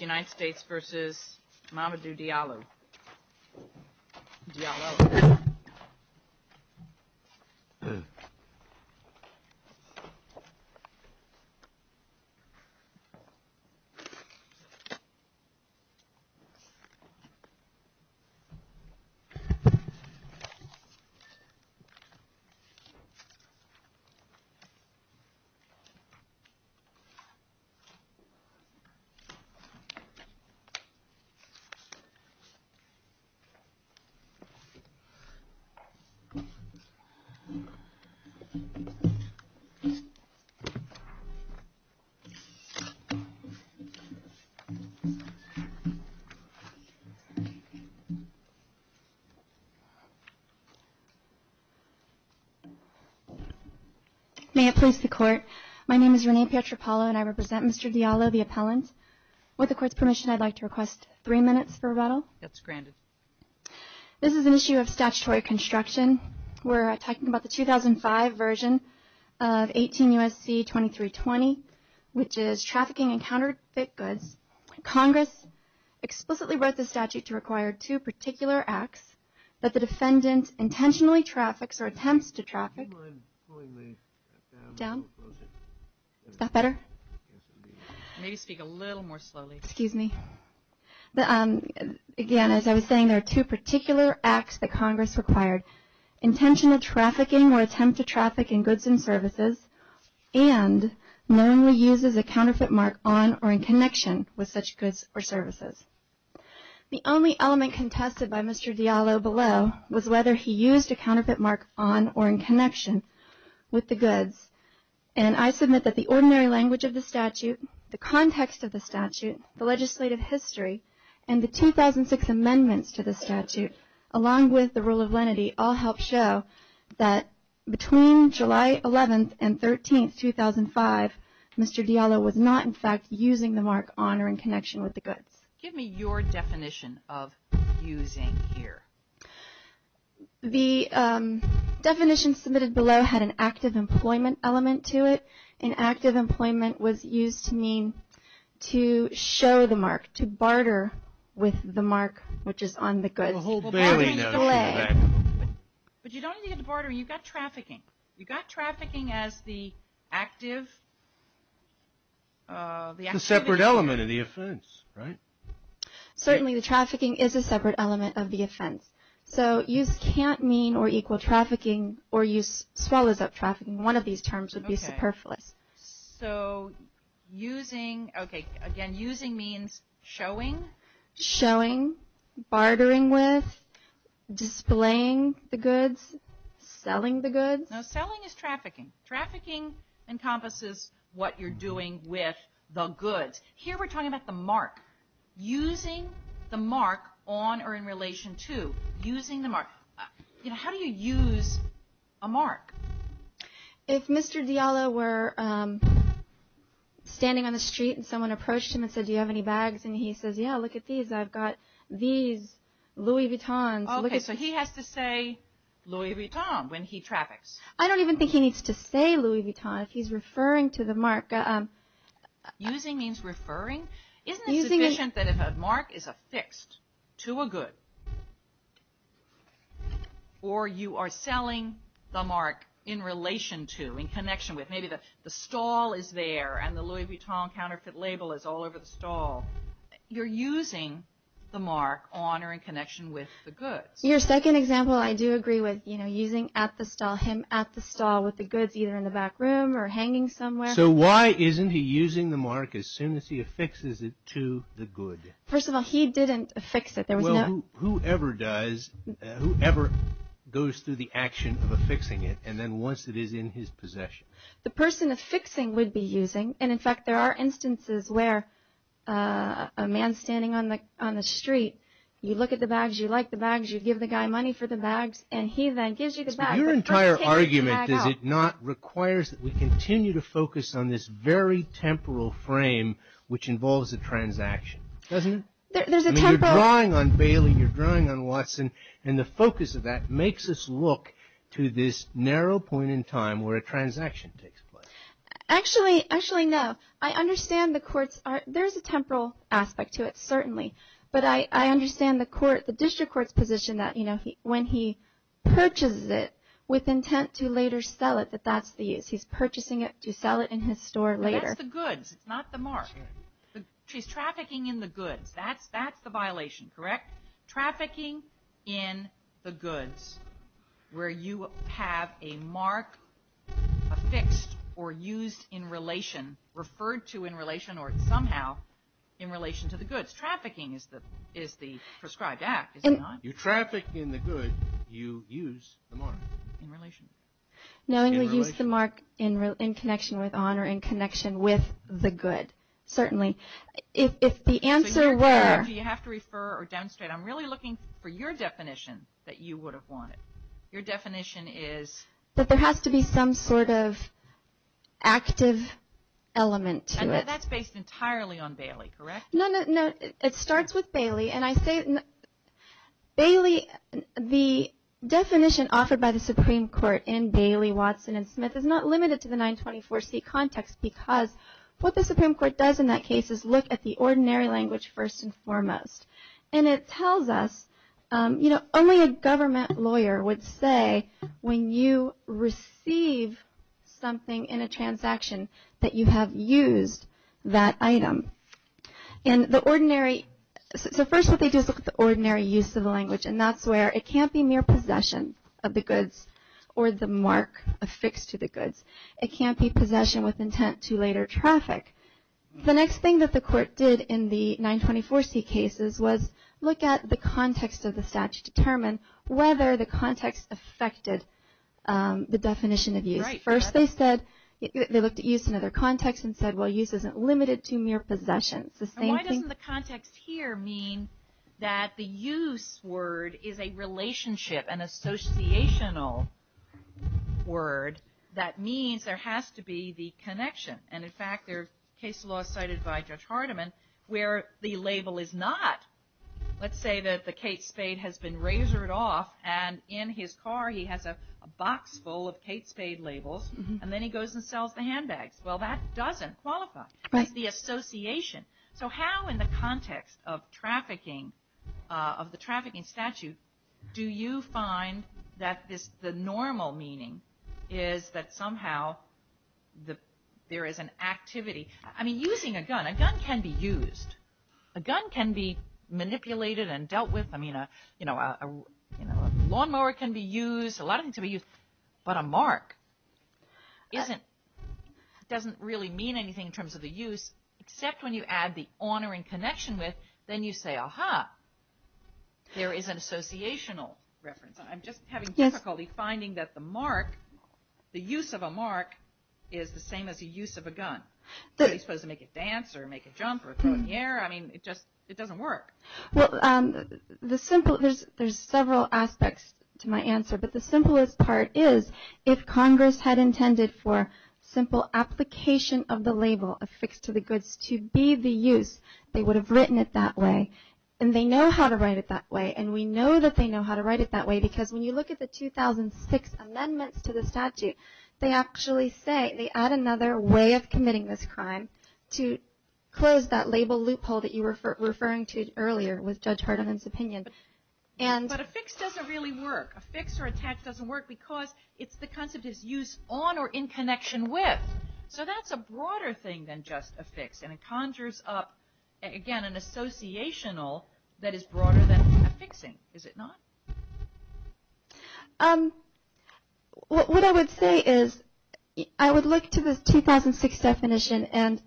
United States v. Mamadou Diallo United States v. Diallo United States v. Diallo May it please the Court. My name is Renee Pietropalo and I represent Mr. Diallo, the This is an issue of statutory construction. We're talking about the 2005 version of 18 U.S.C. 2320, which is trafficking in counterfeit goods. Congress explicitly wrote the statute to require two particular acts that the defendant intentionally traffics or attempts to traffic. Excuse me. Again, as I was saying, there are two particular acts that Congress required. Intentional trafficking or attempt to traffic in goods and services and knowingly uses a counterfeit mark on or in connection with such goods or services. The only element contested by Mr. Diallo below was whether he used a counterfeit mark on or in connection with the goods. And I submit that the ordinary language of the statute, the context of the statute, the legislative history, and the 2006 amendments to the statute, along with the rule of lenity, all help show that between July 11th and 13th, 2005, Mr. Diallo was not, in fact, using the The definition submitted below had an active employment element to it. And active employment was used to mean to show the mark, to barter with the mark which is on the goods. But you don't need to barter. You've got trafficking. You've got trafficking as the active The separate element of the offense, right? Certainly the trafficking is a separate element of the offense. So use can't mean or equal trafficking or use swallows up trafficking. One of these terms would be superfluous. So using, okay, again, using means showing? Showing, bartering with, displaying the goods, selling the goods. No, selling is trafficking. Trafficking encompasses what you're doing with the goods. Here we're talking about the mark. Using the mark on or in relation to. Using the mark. You know, how do you use a mark? If Mr. Diallo were standing on the street and someone approached him and said, do you have any bags? And he says, yeah, look at these. I've got these Louis Vuittons. Okay, so he has to say Louis Vuitton when he traffics. I don't even think he needs to say Louis Vuitton if he's referring to the mark. Using means referring? Isn't it sufficient that if a mark is affixed to a good or you are selling the mark in relation to, in connection with. Maybe the stall is there and the Louis Vuitton counterfeit label is all over the stall. You're using the mark on or in connection with the goods. Your second example I do agree with, you know, using at the stall, him at the stall with the goods either in the back room or hanging somewhere. So why isn't he using the mark as soon as he affixes it to the good? First of all, he didn't affix it. Whoever does, whoever goes through the action of affixing it and then once it is in his possession. The person affixing would be using. And in fact, there are instances where a man standing on the street, you look at the bags, you like the bags, you give the guy money for the bags and he then gives you the bag. Your entire argument is it not requires that we continue to focus on this very temporal frame which involves a transaction, doesn't it? You're drawing on Bailey, you're drawing on Watson, and the focus of that makes us look to this narrow point in time where a transaction takes place. Actually, no. I understand the courts, there's a temporal aspect to it, certainly. But I understand the district court's position that when he purchases it with intent to later sell it, that that's the use. He's purchasing it to sell it in his store later. That's the goods, it's not the mark. She's trafficking in the goods. That's the violation, correct? Trafficking in the goods where you have a mark affixed or used in relation, referred to in relation or somehow in relation to the goods. Trafficking is the prescribed act, is it not? You're trafficking the goods, you use the mark. In relation. Knowingly use the mark in connection with honor, in connection with the good, certainly. If the answer were... Do you have to refer or demonstrate? I'm really looking for your definition that you would have wanted. Your definition is... That there has to be some sort of active element to it. That's based entirely on Bailey, correct? No, no, no. It starts with Bailey and I say... Bailey, the definition offered by the Supreme Court in Bailey, Watson and Smith is not limited to the 924C context because what the Supreme Court does in that case is look at the ordinary language first and foremost. And it tells us, you know, only a government lawyer would say when you receive something in a transaction that you have used that item. And the ordinary... So first what they do is look at the ordinary use of the language and that's where it can't be mere possession of the goods or the mark affixed to the goods. It can't be possession with intent to later traffic. The next thing that the court did in the 924C cases was look at the context of the statute to determine whether the context affected the definition of use. First they said... They looked at use in other contexts and said, well, use isn't limited to mere possession. Why doesn't the context here mean that the use word is a relationship, an associational word that means there has to be the connection? And, in fact, there are case laws cited by Judge Hardiman where the label is not. Let's say that the Kate Spade has been razored off and in his car he has a box full of Kate Spade labels and then he goes and sells the handbags. Well, that doesn't qualify as the association. So how in the context of trafficking, of the trafficking statute, do you find that the normal meaning is that somehow there is an activity? I mean, using a gun. A gun can be used. A gun can be manipulated and dealt with. I mean, a lawnmower can be used. A lot of things can be used. But a mark doesn't really mean anything in terms of the use except when you add the honor and connection with. Then you say, aha, there is an associational reference. I'm just having difficulty finding that the mark, the use of a mark, is the same as the use of a gun. Are you supposed to make it dance or make it jump or throw it in the air? I mean, it just doesn't work. Well, there are several aspects to my answer, but the simplest part is if Congress had intended for simple application of the label, affixed to the goods, to be the use, they would have written it that way. And they know how to write it that way. And we know that they know how to write it that way because when you look at the 2006 amendments to the statute, they actually say, they add another way of committing this crime to close that label loophole that you were referring to earlier with Judge Hardeman's opinion. But affixed doesn't really work. Affixed or attached doesn't work because it's the concept of use on or in connection with. So that's a broader thing than just affixed, and it conjures up, again, an associational that is broader than affixing, is it not? What I would say is I would look to the 2006 definition and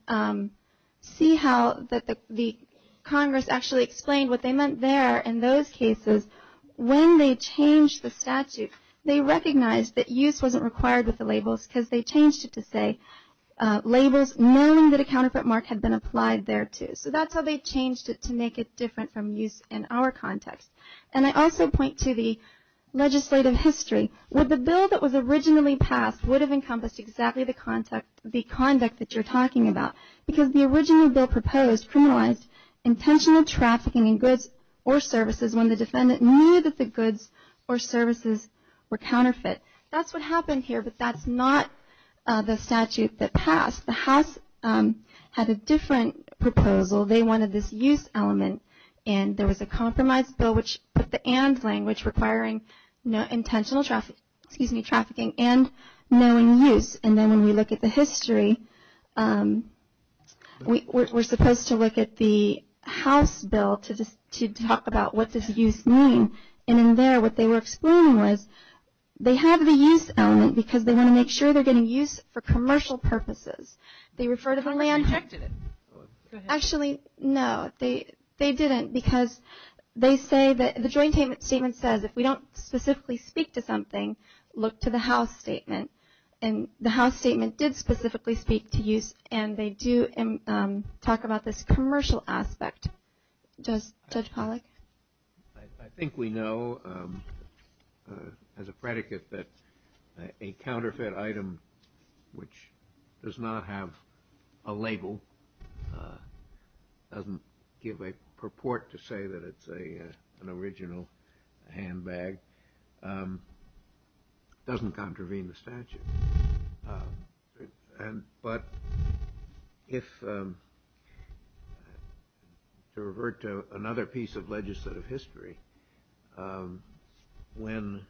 see how the Congress actually explained what they meant there in those cases. When they changed the statute, they recognized that use wasn't required with the labels because they changed it to say labels knowing that a counterfeit mark had been applied thereto. So that's how they changed it to make it different from use in our context. And I also point to the legislative history. The bill that was originally passed would have encompassed exactly the conduct that you're talking about because the original bill proposed criminalized intentional trafficking in goods or services when the defendant knew that the goods or services were counterfeit. That's what happened here, but that's not the statute that passed. The House had a different proposal. They wanted this use element, and there was a compromise bill which put the and language requiring intentional trafficking and knowing use. And then when we look at the history, we're supposed to look at the House bill to talk about what does use mean, and in there what they were explaining was they have the use element because they want to make sure they're getting use for commercial purposes. They refer to the land. Actually, no. They didn't because they say that the joint statement says if we don't specifically speak to something, look to the House statement. And the House statement did specifically speak to use, and they do talk about this commercial aspect. Judge Pollack? I think we know as a predicate that a counterfeit item which does not have a label, doesn't give a purport to say that it's an original handbag, doesn't contravene the statute. But to revert to another piece of legislative history, when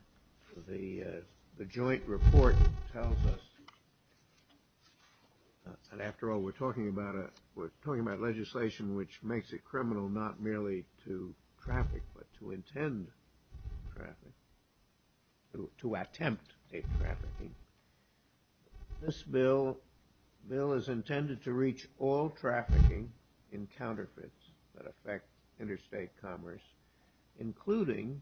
the joint report tells us, and after all we're talking about legislation which makes it criminal not merely to traffic, but to intend traffic, to attempt a trafficking, this bill is intended to reach all trafficking in counterfeits that affect interstate commerce, including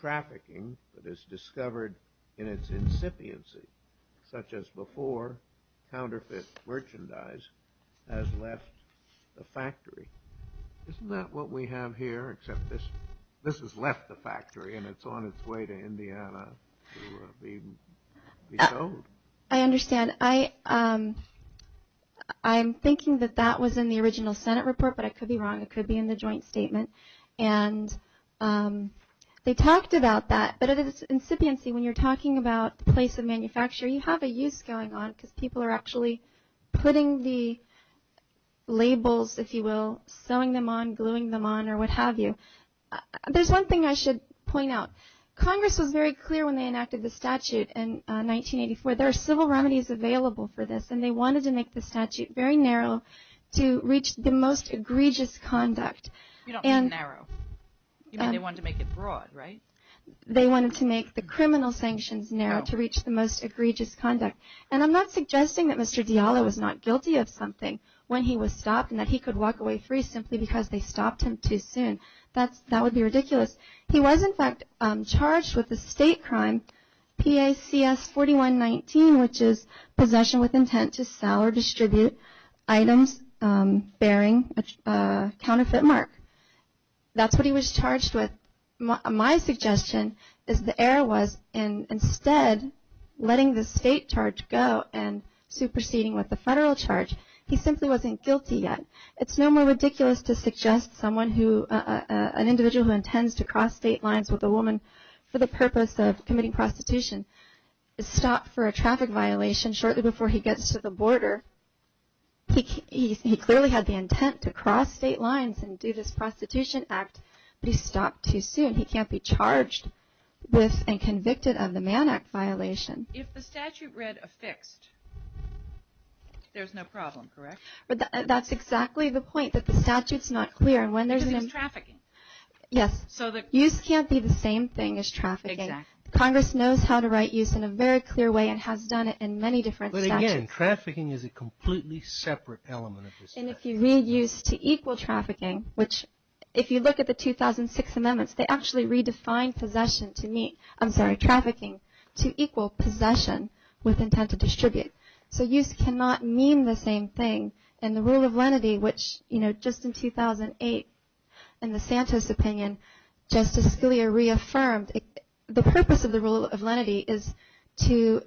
trafficking that is discovered in its incipiency, such as before counterfeit merchandise has left the factory. Isn't that what we have here, except this has left the factory, and it's on its way to Indiana to be sold? I understand. I'm thinking that that was in the original Senate report, but I could be wrong. It could be in the joint statement. And they talked about that, but it is incipiency. When you're talking about the place of manufacture, you have a use going on because people are actually putting the labels, if you will, sewing them on, gluing them on, or what have you. There's one thing I should point out. Congress was very clear when they enacted the statute in 1984. There are civil remedies available for this, and they wanted to make the statute very narrow to reach the most egregious conduct. You don't say narrow. You mean they wanted to make it broad, right? They wanted to make the criminal sanctions narrow to reach the most egregious conduct. And I'm not suggesting that Mr. Diallo was not guilty of something when he was stopped and that he could walk away free simply because they stopped him too soon. That would be ridiculous. He was, in fact, charged with a state crime, PACS 4119, which is possession with intent to sell or distribute items bearing a counterfeit mark. That's what he was charged with. My suggestion is the error was instead letting the state charge go and superseding with the federal charge, he simply wasn't guilty yet. It's no more ridiculous to suggest an individual who intends to cross state lines with a woman for the purpose of committing prostitution is stopped for a traffic violation shortly before he gets to the border. He clearly had the intent to cross state lines and do this prostitution act, but he stopped too soon. He can't be charged with and convicted of the Mann Act violation. If the statute read affixed, there's no problem, correct? That's exactly the point, that the statute's not clear. Because it's trafficking. Yes. Use can't be the same thing as trafficking. Congress knows how to write use in a very clear way and has done it in many different statutes. But again, trafficking is a completely separate element of the statute. And if you read use to equal trafficking, which if you look at the 2006 amendments, they actually redefined trafficking to equal possession with intent to distribute. So use cannot mean the same thing. And the rule of lenity, which just in 2008 in the Santos opinion, Justice Scalia reaffirmed, the purpose of the rule of lenity is to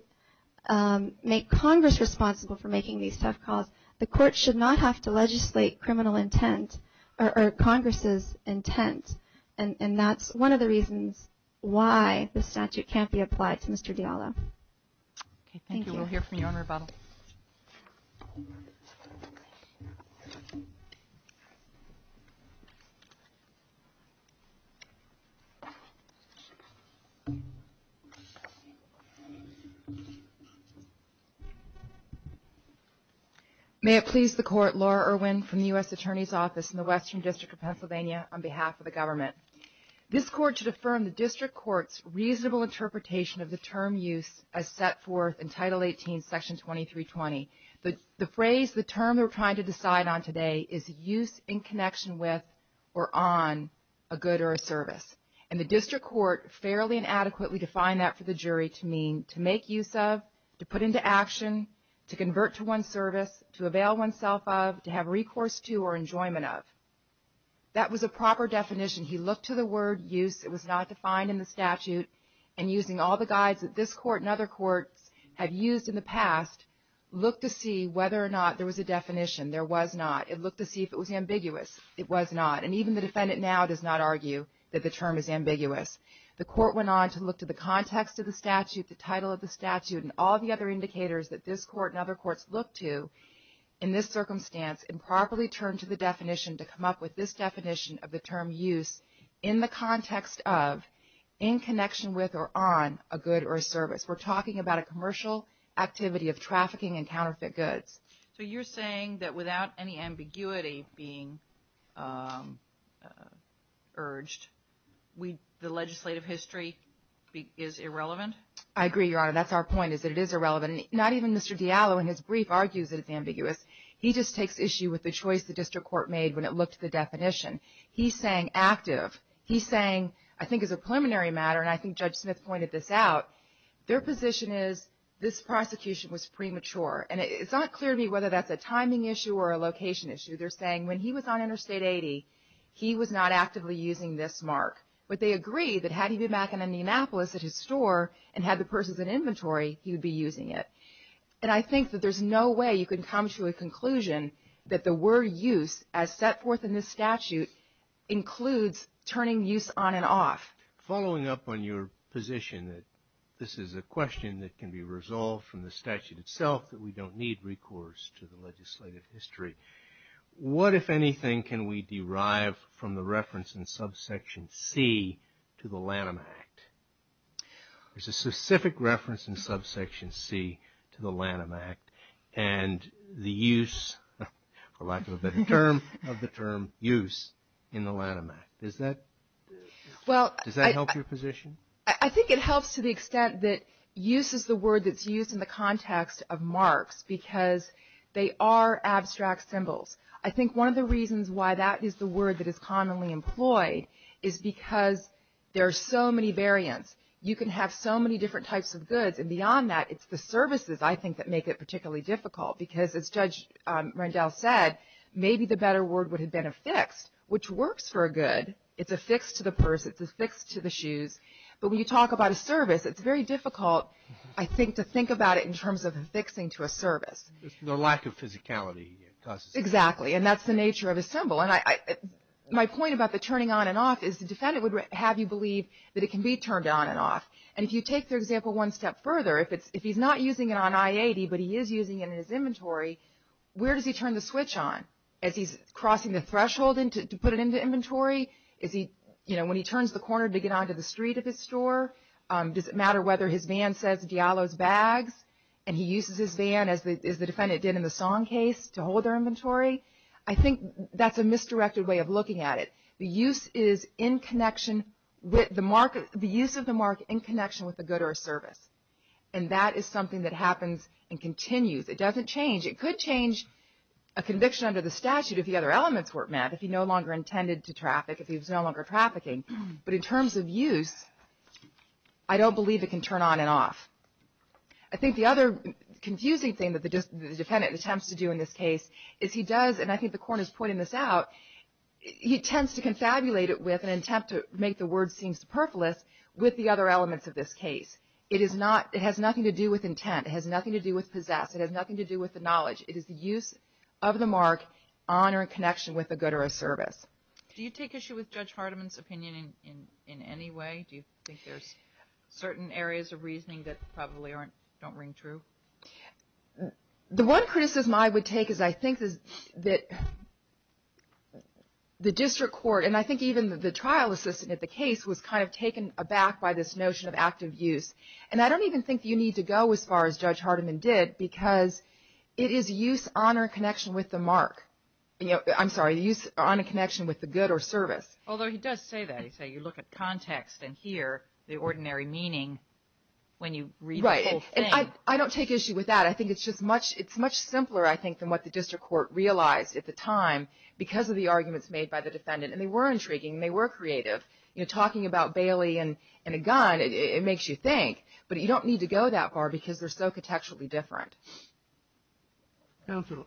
make Congress responsible for making these tough calls. The court should not have to legislate criminal intent or Congress's intent. And that's one of the reasons why the statute can't be applied to Mr. Diallo. Thank you. We'll hear from you on rebuttal. May it please the Court, Laura Irwin from the U.S. Attorney's Office in the Western District of Pennsylvania, on behalf of the government. This Court should affirm the District Court's reasonable interpretation of the term use as set forth in Title 18, Section 2320. The phrase, the term we're trying to decide on today is use in connection with or on a good or a service. And the District Court fairly and adequately defined that for the jury to mean to make use of, to put into action, to convert to one's service, to avail oneself of, to have recourse to or enjoyment of. That was a proper definition. He looked to the word use. It was not defined in the statute. And using all the guides that this Court and other courts have used in the past, looked to see whether or not there was a definition. There was not. It looked to see if it was ambiguous. It was not. And even the defendant now does not argue that the term is ambiguous. The court went on to look to the context of the statute, the title of the statute, and all the other indicators that this Court and other courts look to in this circumstance and properly turn to the definition to come up with this definition of the term use in the context of, in connection with or on a good or a service. We're talking about a commercial activity of trafficking and counterfeit goods. So you're saying that without any ambiguity being urged, the legislative history is irrelevant? I agree, Your Honor. That's our point is that it is irrelevant. Not even Mr. Diallo in his brief argues that it's ambiguous. He just takes issue with the choice the district court made when it looked to the definition. He's saying active. He's saying, I think as a preliminary matter, and I think Judge Smith pointed this out, their position is this prosecution was premature. And it's not clear to me whether that's a timing issue or a location issue. They're saying when he was on Interstate 80, he was not actively using this mark. But they agree that had he been back in Indianapolis at his store and had the purses in inventory, he would be using it. And I think that there's no way you can come to a conclusion that the word use, as set forth in this statute, includes turning use on and off. Following up on your position that this is a question that can be resolved from the statute itself, that we don't need recourse to the legislative history, what, if anything, can we derive from the reference in subsection C to the Lanham Act? There's a specific reference in subsection C to the Lanham Act and the use, for lack of a better term, of the term use in the Lanham Act. Does that help your position? I think it helps to the extent that use is the word that's used in the context of marks because they are abstract symbols. I think one of the reasons why that is the word that is commonly employed is because there are so many variants. You can have so many different types of goods. And beyond that, it's the services, I think, that make it particularly difficult. Because as Judge Rendell said, maybe the better word would have been affixed, which works for a good. It's affixed to the purse. It's affixed to the shoes. But when you talk about a service, it's very difficult, I think, to think about it in terms of affixing to a service. The lack of physicality causes it. Exactly. And that's the nature of a symbol. My point about the turning on and off is the defendant would have you believe that it can be turned on and off. And if you take their example one step further, if he's not using it on I-80, but he is using it in his inventory, where does he turn the switch on? Is he crossing the threshold to put it into inventory? Is he, you know, when he turns the corner to get onto the street of his store, does it matter whether his van says Diallo's Bags, and he uses his van, as the defendant did in the Song case, to hold their inventory? I think that's a misdirected way of looking at it. The use of the mark in connection with a good or a service. And that is something that happens and continues. It doesn't change. It could change a conviction under the statute if the other elements weren't met, if he no longer intended to traffic, if he was no longer trafficking. But in terms of use, I don't believe it can turn on and off. I think the other confusing thing that the defendant attempts to do in this case, is he does, and I think the court is pointing this out, he tends to confabulate it with an attempt to make the word seem superfluous with the other elements of this case. It is not, it has nothing to do with intent. It has nothing to do with possess. It has nothing to do with the knowledge. It is the use of the mark on or in connection with a good or a service. Do you take issue with Judge Hardiman's opinion in any way? Do you think there's certain areas of reasoning that probably don't ring true? The one criticism I would take is I think that the district court, and I think even the trial assistant at the case, was kind of taken aback by this notion of active use. And I don't even think you need to go as far as Judge Hardiman did, because it is use on or in connection with the mark. I'm sorry, use on or in connection with the good or service. Although he does say that. He says you look at context and hear the ordinary meaning when you read the whole thing. Right. And I don't take issue with that. I think it's just much simpler, I think, than what the district court realized at the time because of the arguments made by the defendant. And they were intriguing. They were creative. You know, talking about Bailey and a gun, it makes you think. But you don't need to go that far because they're so contextually different. Counsel,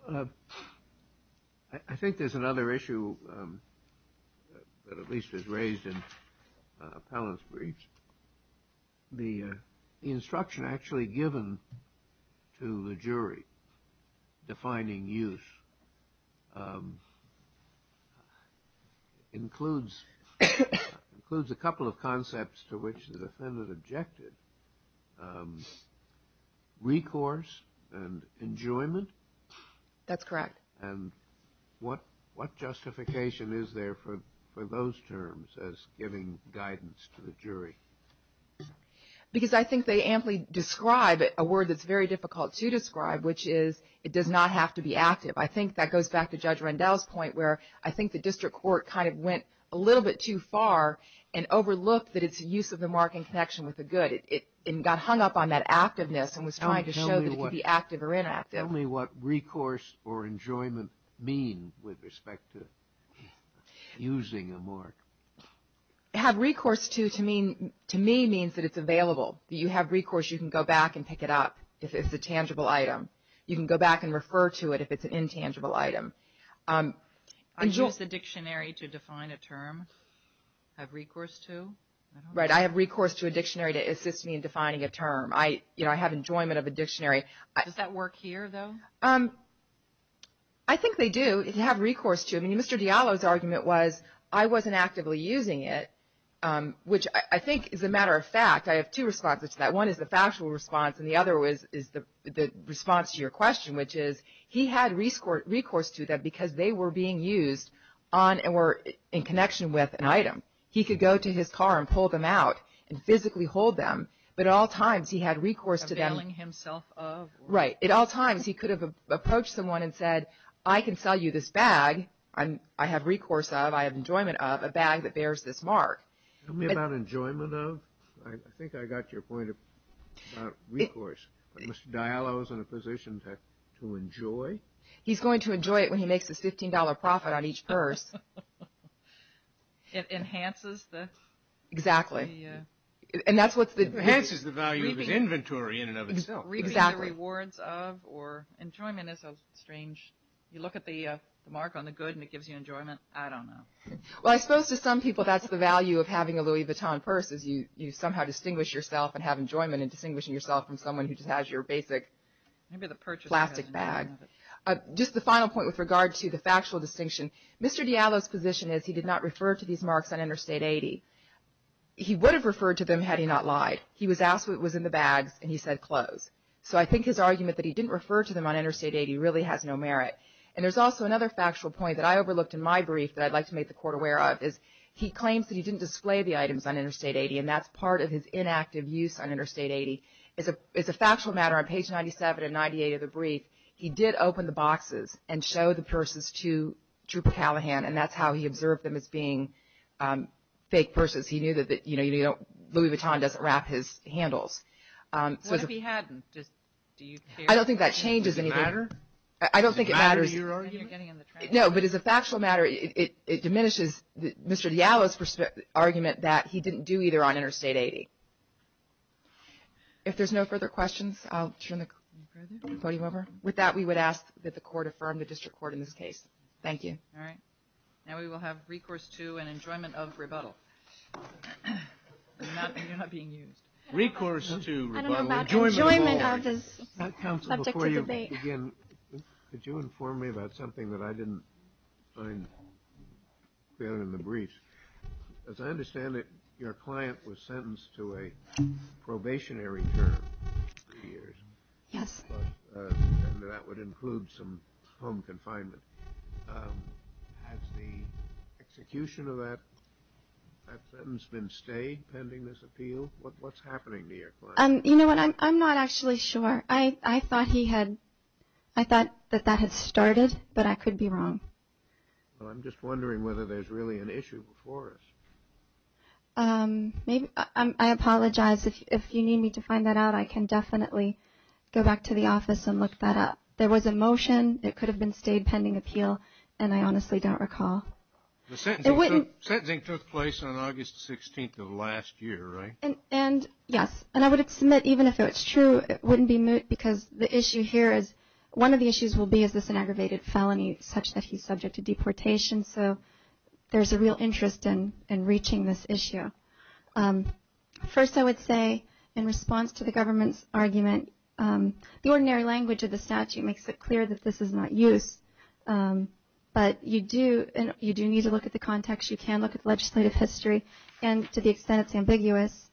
I think there's another issue that at least is raised in Appellant's brief. The instruction actually given to the jury defining use includes a couple of concepts to which the defendant objected, recourse and enjoyment. That's correct. And what justification is there for those terms as giving guidance to the jury? Because I think they amply describe a word that's very difficult to describe, which is it does not have to be active. I think that goes back to Judge Rendell's point where I think the district court kind of went a little bit too far and overlooked that it's a use of the mark in connection with the good. It got hung up on that activeness and was trying to show that it could be active or inactive. Tell me what recourse or enjoyment mean with respect to using a mark. To have recourse, to me, means that it's available. You have recourse, you can go back and pick it up if it's a tangible item. You can go back and refer to it if it's an intangible item. I use the dictionary to define a term. I have recourse to. Right. I have recourse to a dictionary to assist me in defining a term. You know, I have enjoyment of a dictionary. Does that work here, though? I think they do, to have recourse to. I mean, Mr. Diallo's argument was I wasn't actively using it, which I think is a matter of fact. I have two responses to that. One is the factual response, and the other is the response to your question, which is he had recourse to that because they were being used in connection with an item. He could go to his car and pull them out and physically hold them, but at all times he had recourse to them. Availing himself of. Right. At all times he could have approached someone and said, I can sell you this bag. I have recourse of, I have enjoyment of a bag that bears this mark. Tell me about enjoyment of. I think I got your point about recourse. Mr. Diallo's in a position to enjoy. He's going to enjoy it when he makes a $15 profit on each purse. It enhances the. Exactly. And that's what's the. It enhances the value of his inventory in and of itself. Exactly. Rewards of or enjoyment is a strange. You look at the mark on the good and it gives you enjoyment. I don't know. Well, I suppose to some people that's the value of having a Louis Vuitton purse is you somehow distinguish yourself and have enjoyment in distinguishing yourself from someone who just has your basic plastic bag. Just the final point with regard to the factual distinction. Mr. Diallo's position is he did not refer to these marks on Interstate 80. He would have referred to them had he not lied. He was asked what was in the bags and he said clothes. So I think his argument that he didn't refer to them on Interstate 80 really has no merit. And there's also another factual point that I overlooked in my brief that I'd like to make the court aware of is he claims that he didn't display the items on Interstate 80 and that's part of his inactive use on Interstate 80. It's a factual matter on page 97 and 98 of the brief. He did open the boxes and show the purses to Trooper Callahan and that's how he observed them as being fake purses. He knew that, you know, Louis Vuitton doesn't wrap his handles. What if he hadn't? I don't think that changes anything. Does it matter? I don't think it matters. No, but as a factual matter, it diminishes Mr. Diallo's argument that he didn't do either on Interstate 80. If there's no further questions, I'll turn the podium over. With that, we would ask that the court affirm the district court in this case. Thank you. All right. Now we will have recourse to and enjoyment of rebuttal. You're not being used. Recourse to rebuttal. Counsel, before you begin, could you inform me about something that I didn't find clear in the brief? As I understand it, your client was sentenced to a probationary term for three years. Yes. And that would include some home confinement. Has the execution of that sentence been stayed pending this appeal? What's happening to your client? You know what, I'm not actually sure. I thought that that had started, but I could be wrong. Well, I'm just wondering whether there's really an issue before us. I apologize. If you need me to find that out, I can definitely go back to the office and look that up. There was a motion. It could have been stayed pending appeal, and I honestly don't recall. The sentencing took place on August 16th of last year, right? And, yes, and I would submit even if it was true, it wouldn't be moot, because the issue here is one of the issues will be is this an aggravated felony such that he's subject to deportation? So there's a real interest in reaching this issue. First, I would say in response to the government's argument, the ordinary language of the statute makes it clear that this is not use. But you do need to look at the context. You can look at the legislative history. And to the extent it's ambiguous,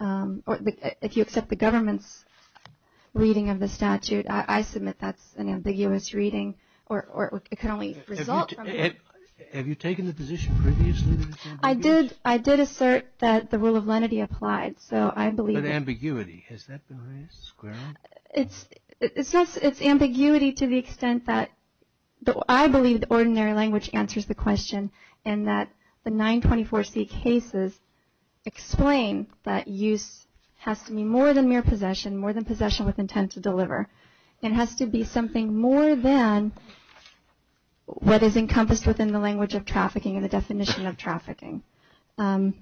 or if you accept the government's reading of the statute, I submit that's an ambiguous reading or it can only result from it. Have you taken the position previously that it's ambiguous? I did assert that the rule of lenity applied. But ambiguity, has that been raised squarely? It's ambiguity to the extent that I believe the ordinary language answers the question and that the 924C cases explain that use has to be more than mere possession, more than possession with intent to deliver. It has to be something more than what is encompassed within the language of trafficking and the definition of trafficking. And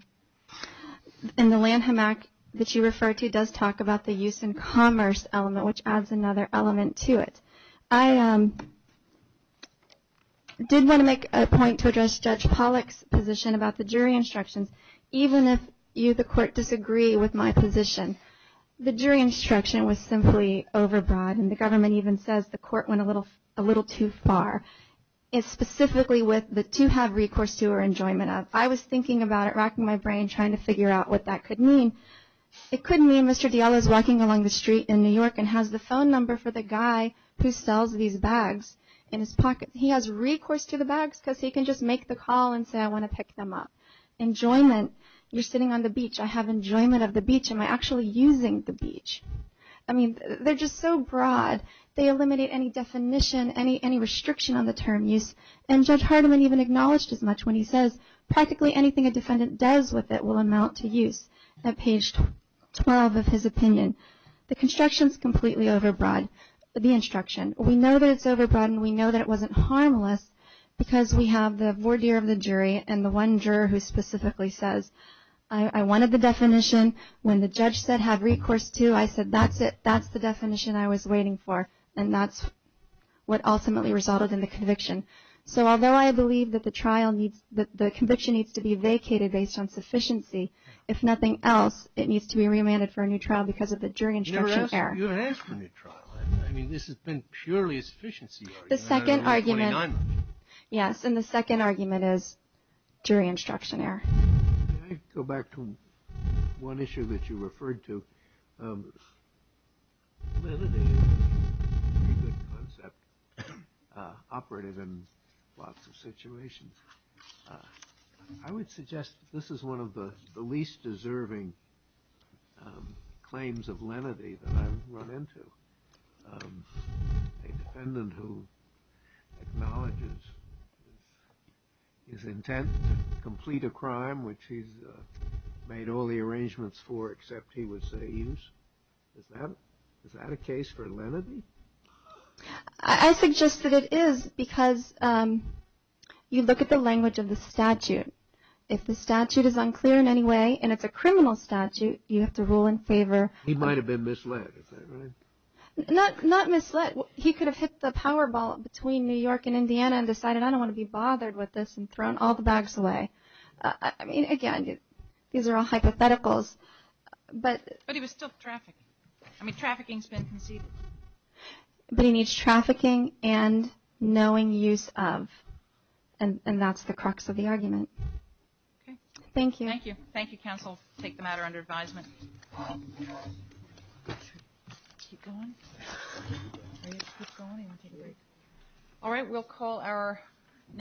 the Lanham Act that you referred to does talk about the use in commerce element, which adds another element to it. I did want to make a point to address Judge Pollack's position about the jury instructions, even if you, the court, disagree with my position. The jury instruction was simply overbroad. And the government even says the court went a little too far. It's specifically with the to have recourse to or enjoyment of. I was thinking about it, racking my brain, trying to figure out what that could mean. It could mean Mr. Diallo is walking along the street in New York and has the phone number for the guy who sells these bags in his pocket. He has recourse to the bags because he can just make the call and say, I want to pick them up. Enjoyment, you're sitting on the beach. I have enjoyment of the beach. Am I actually using the beach? I mean, they're just so broad. They eliminate any definition, any restriction on the term use. And Judge Hardiman even acknowledged as much when he says, practically anything a defendant does with it will amount to use at page 12 of his opinion. The construction is completely overbroad, the instruction. We know that it's overbroad and we know that it wasn't harmless because we have the voir dire of the jury and the one juror who specifically says, I wanted the definition. When the judge said, have recourse to, I said, that's it. That's the definition I was waiting for. And that's what ultimately resulted in the conviction. If nothing else, it needs to be remanded for a new trial because of the jury instruction error. You didn't ask for a new trial. I mean, this has been purely a sufficiency argument. The second argument, yes, and the second argument is jury instruction error. Can I go back to one issue that you referred to? Well, it is a pretty good concept, operative in lots of situations. I would suggest this is one of the least deserving claims of lenity that I've run into. A defendant who acknowledges his intent to complete a crime, which he's made all the arrangements for except he would say use. Is that a case for lenity? I suggest that it is because you look at the language of the statute. If the statute is unclear in any way and it's a criminal statute, you have to rule in favor. He might have been misled, is that right? Not misled. He could have hit the power ball between New York and Indiana and decided I don't want to be bothered with this and thrown all the bags away. I mean, again, these are all hypotheticals. But he was still trafficking. I mean, trafficking has been conceded. But he needs trafficking and knowing use of, and that's the crux of the argument. Okay. Thank you. Thank you. Thank you, counsel. We'll take the matter under advisement. All right. We'll call our next witness.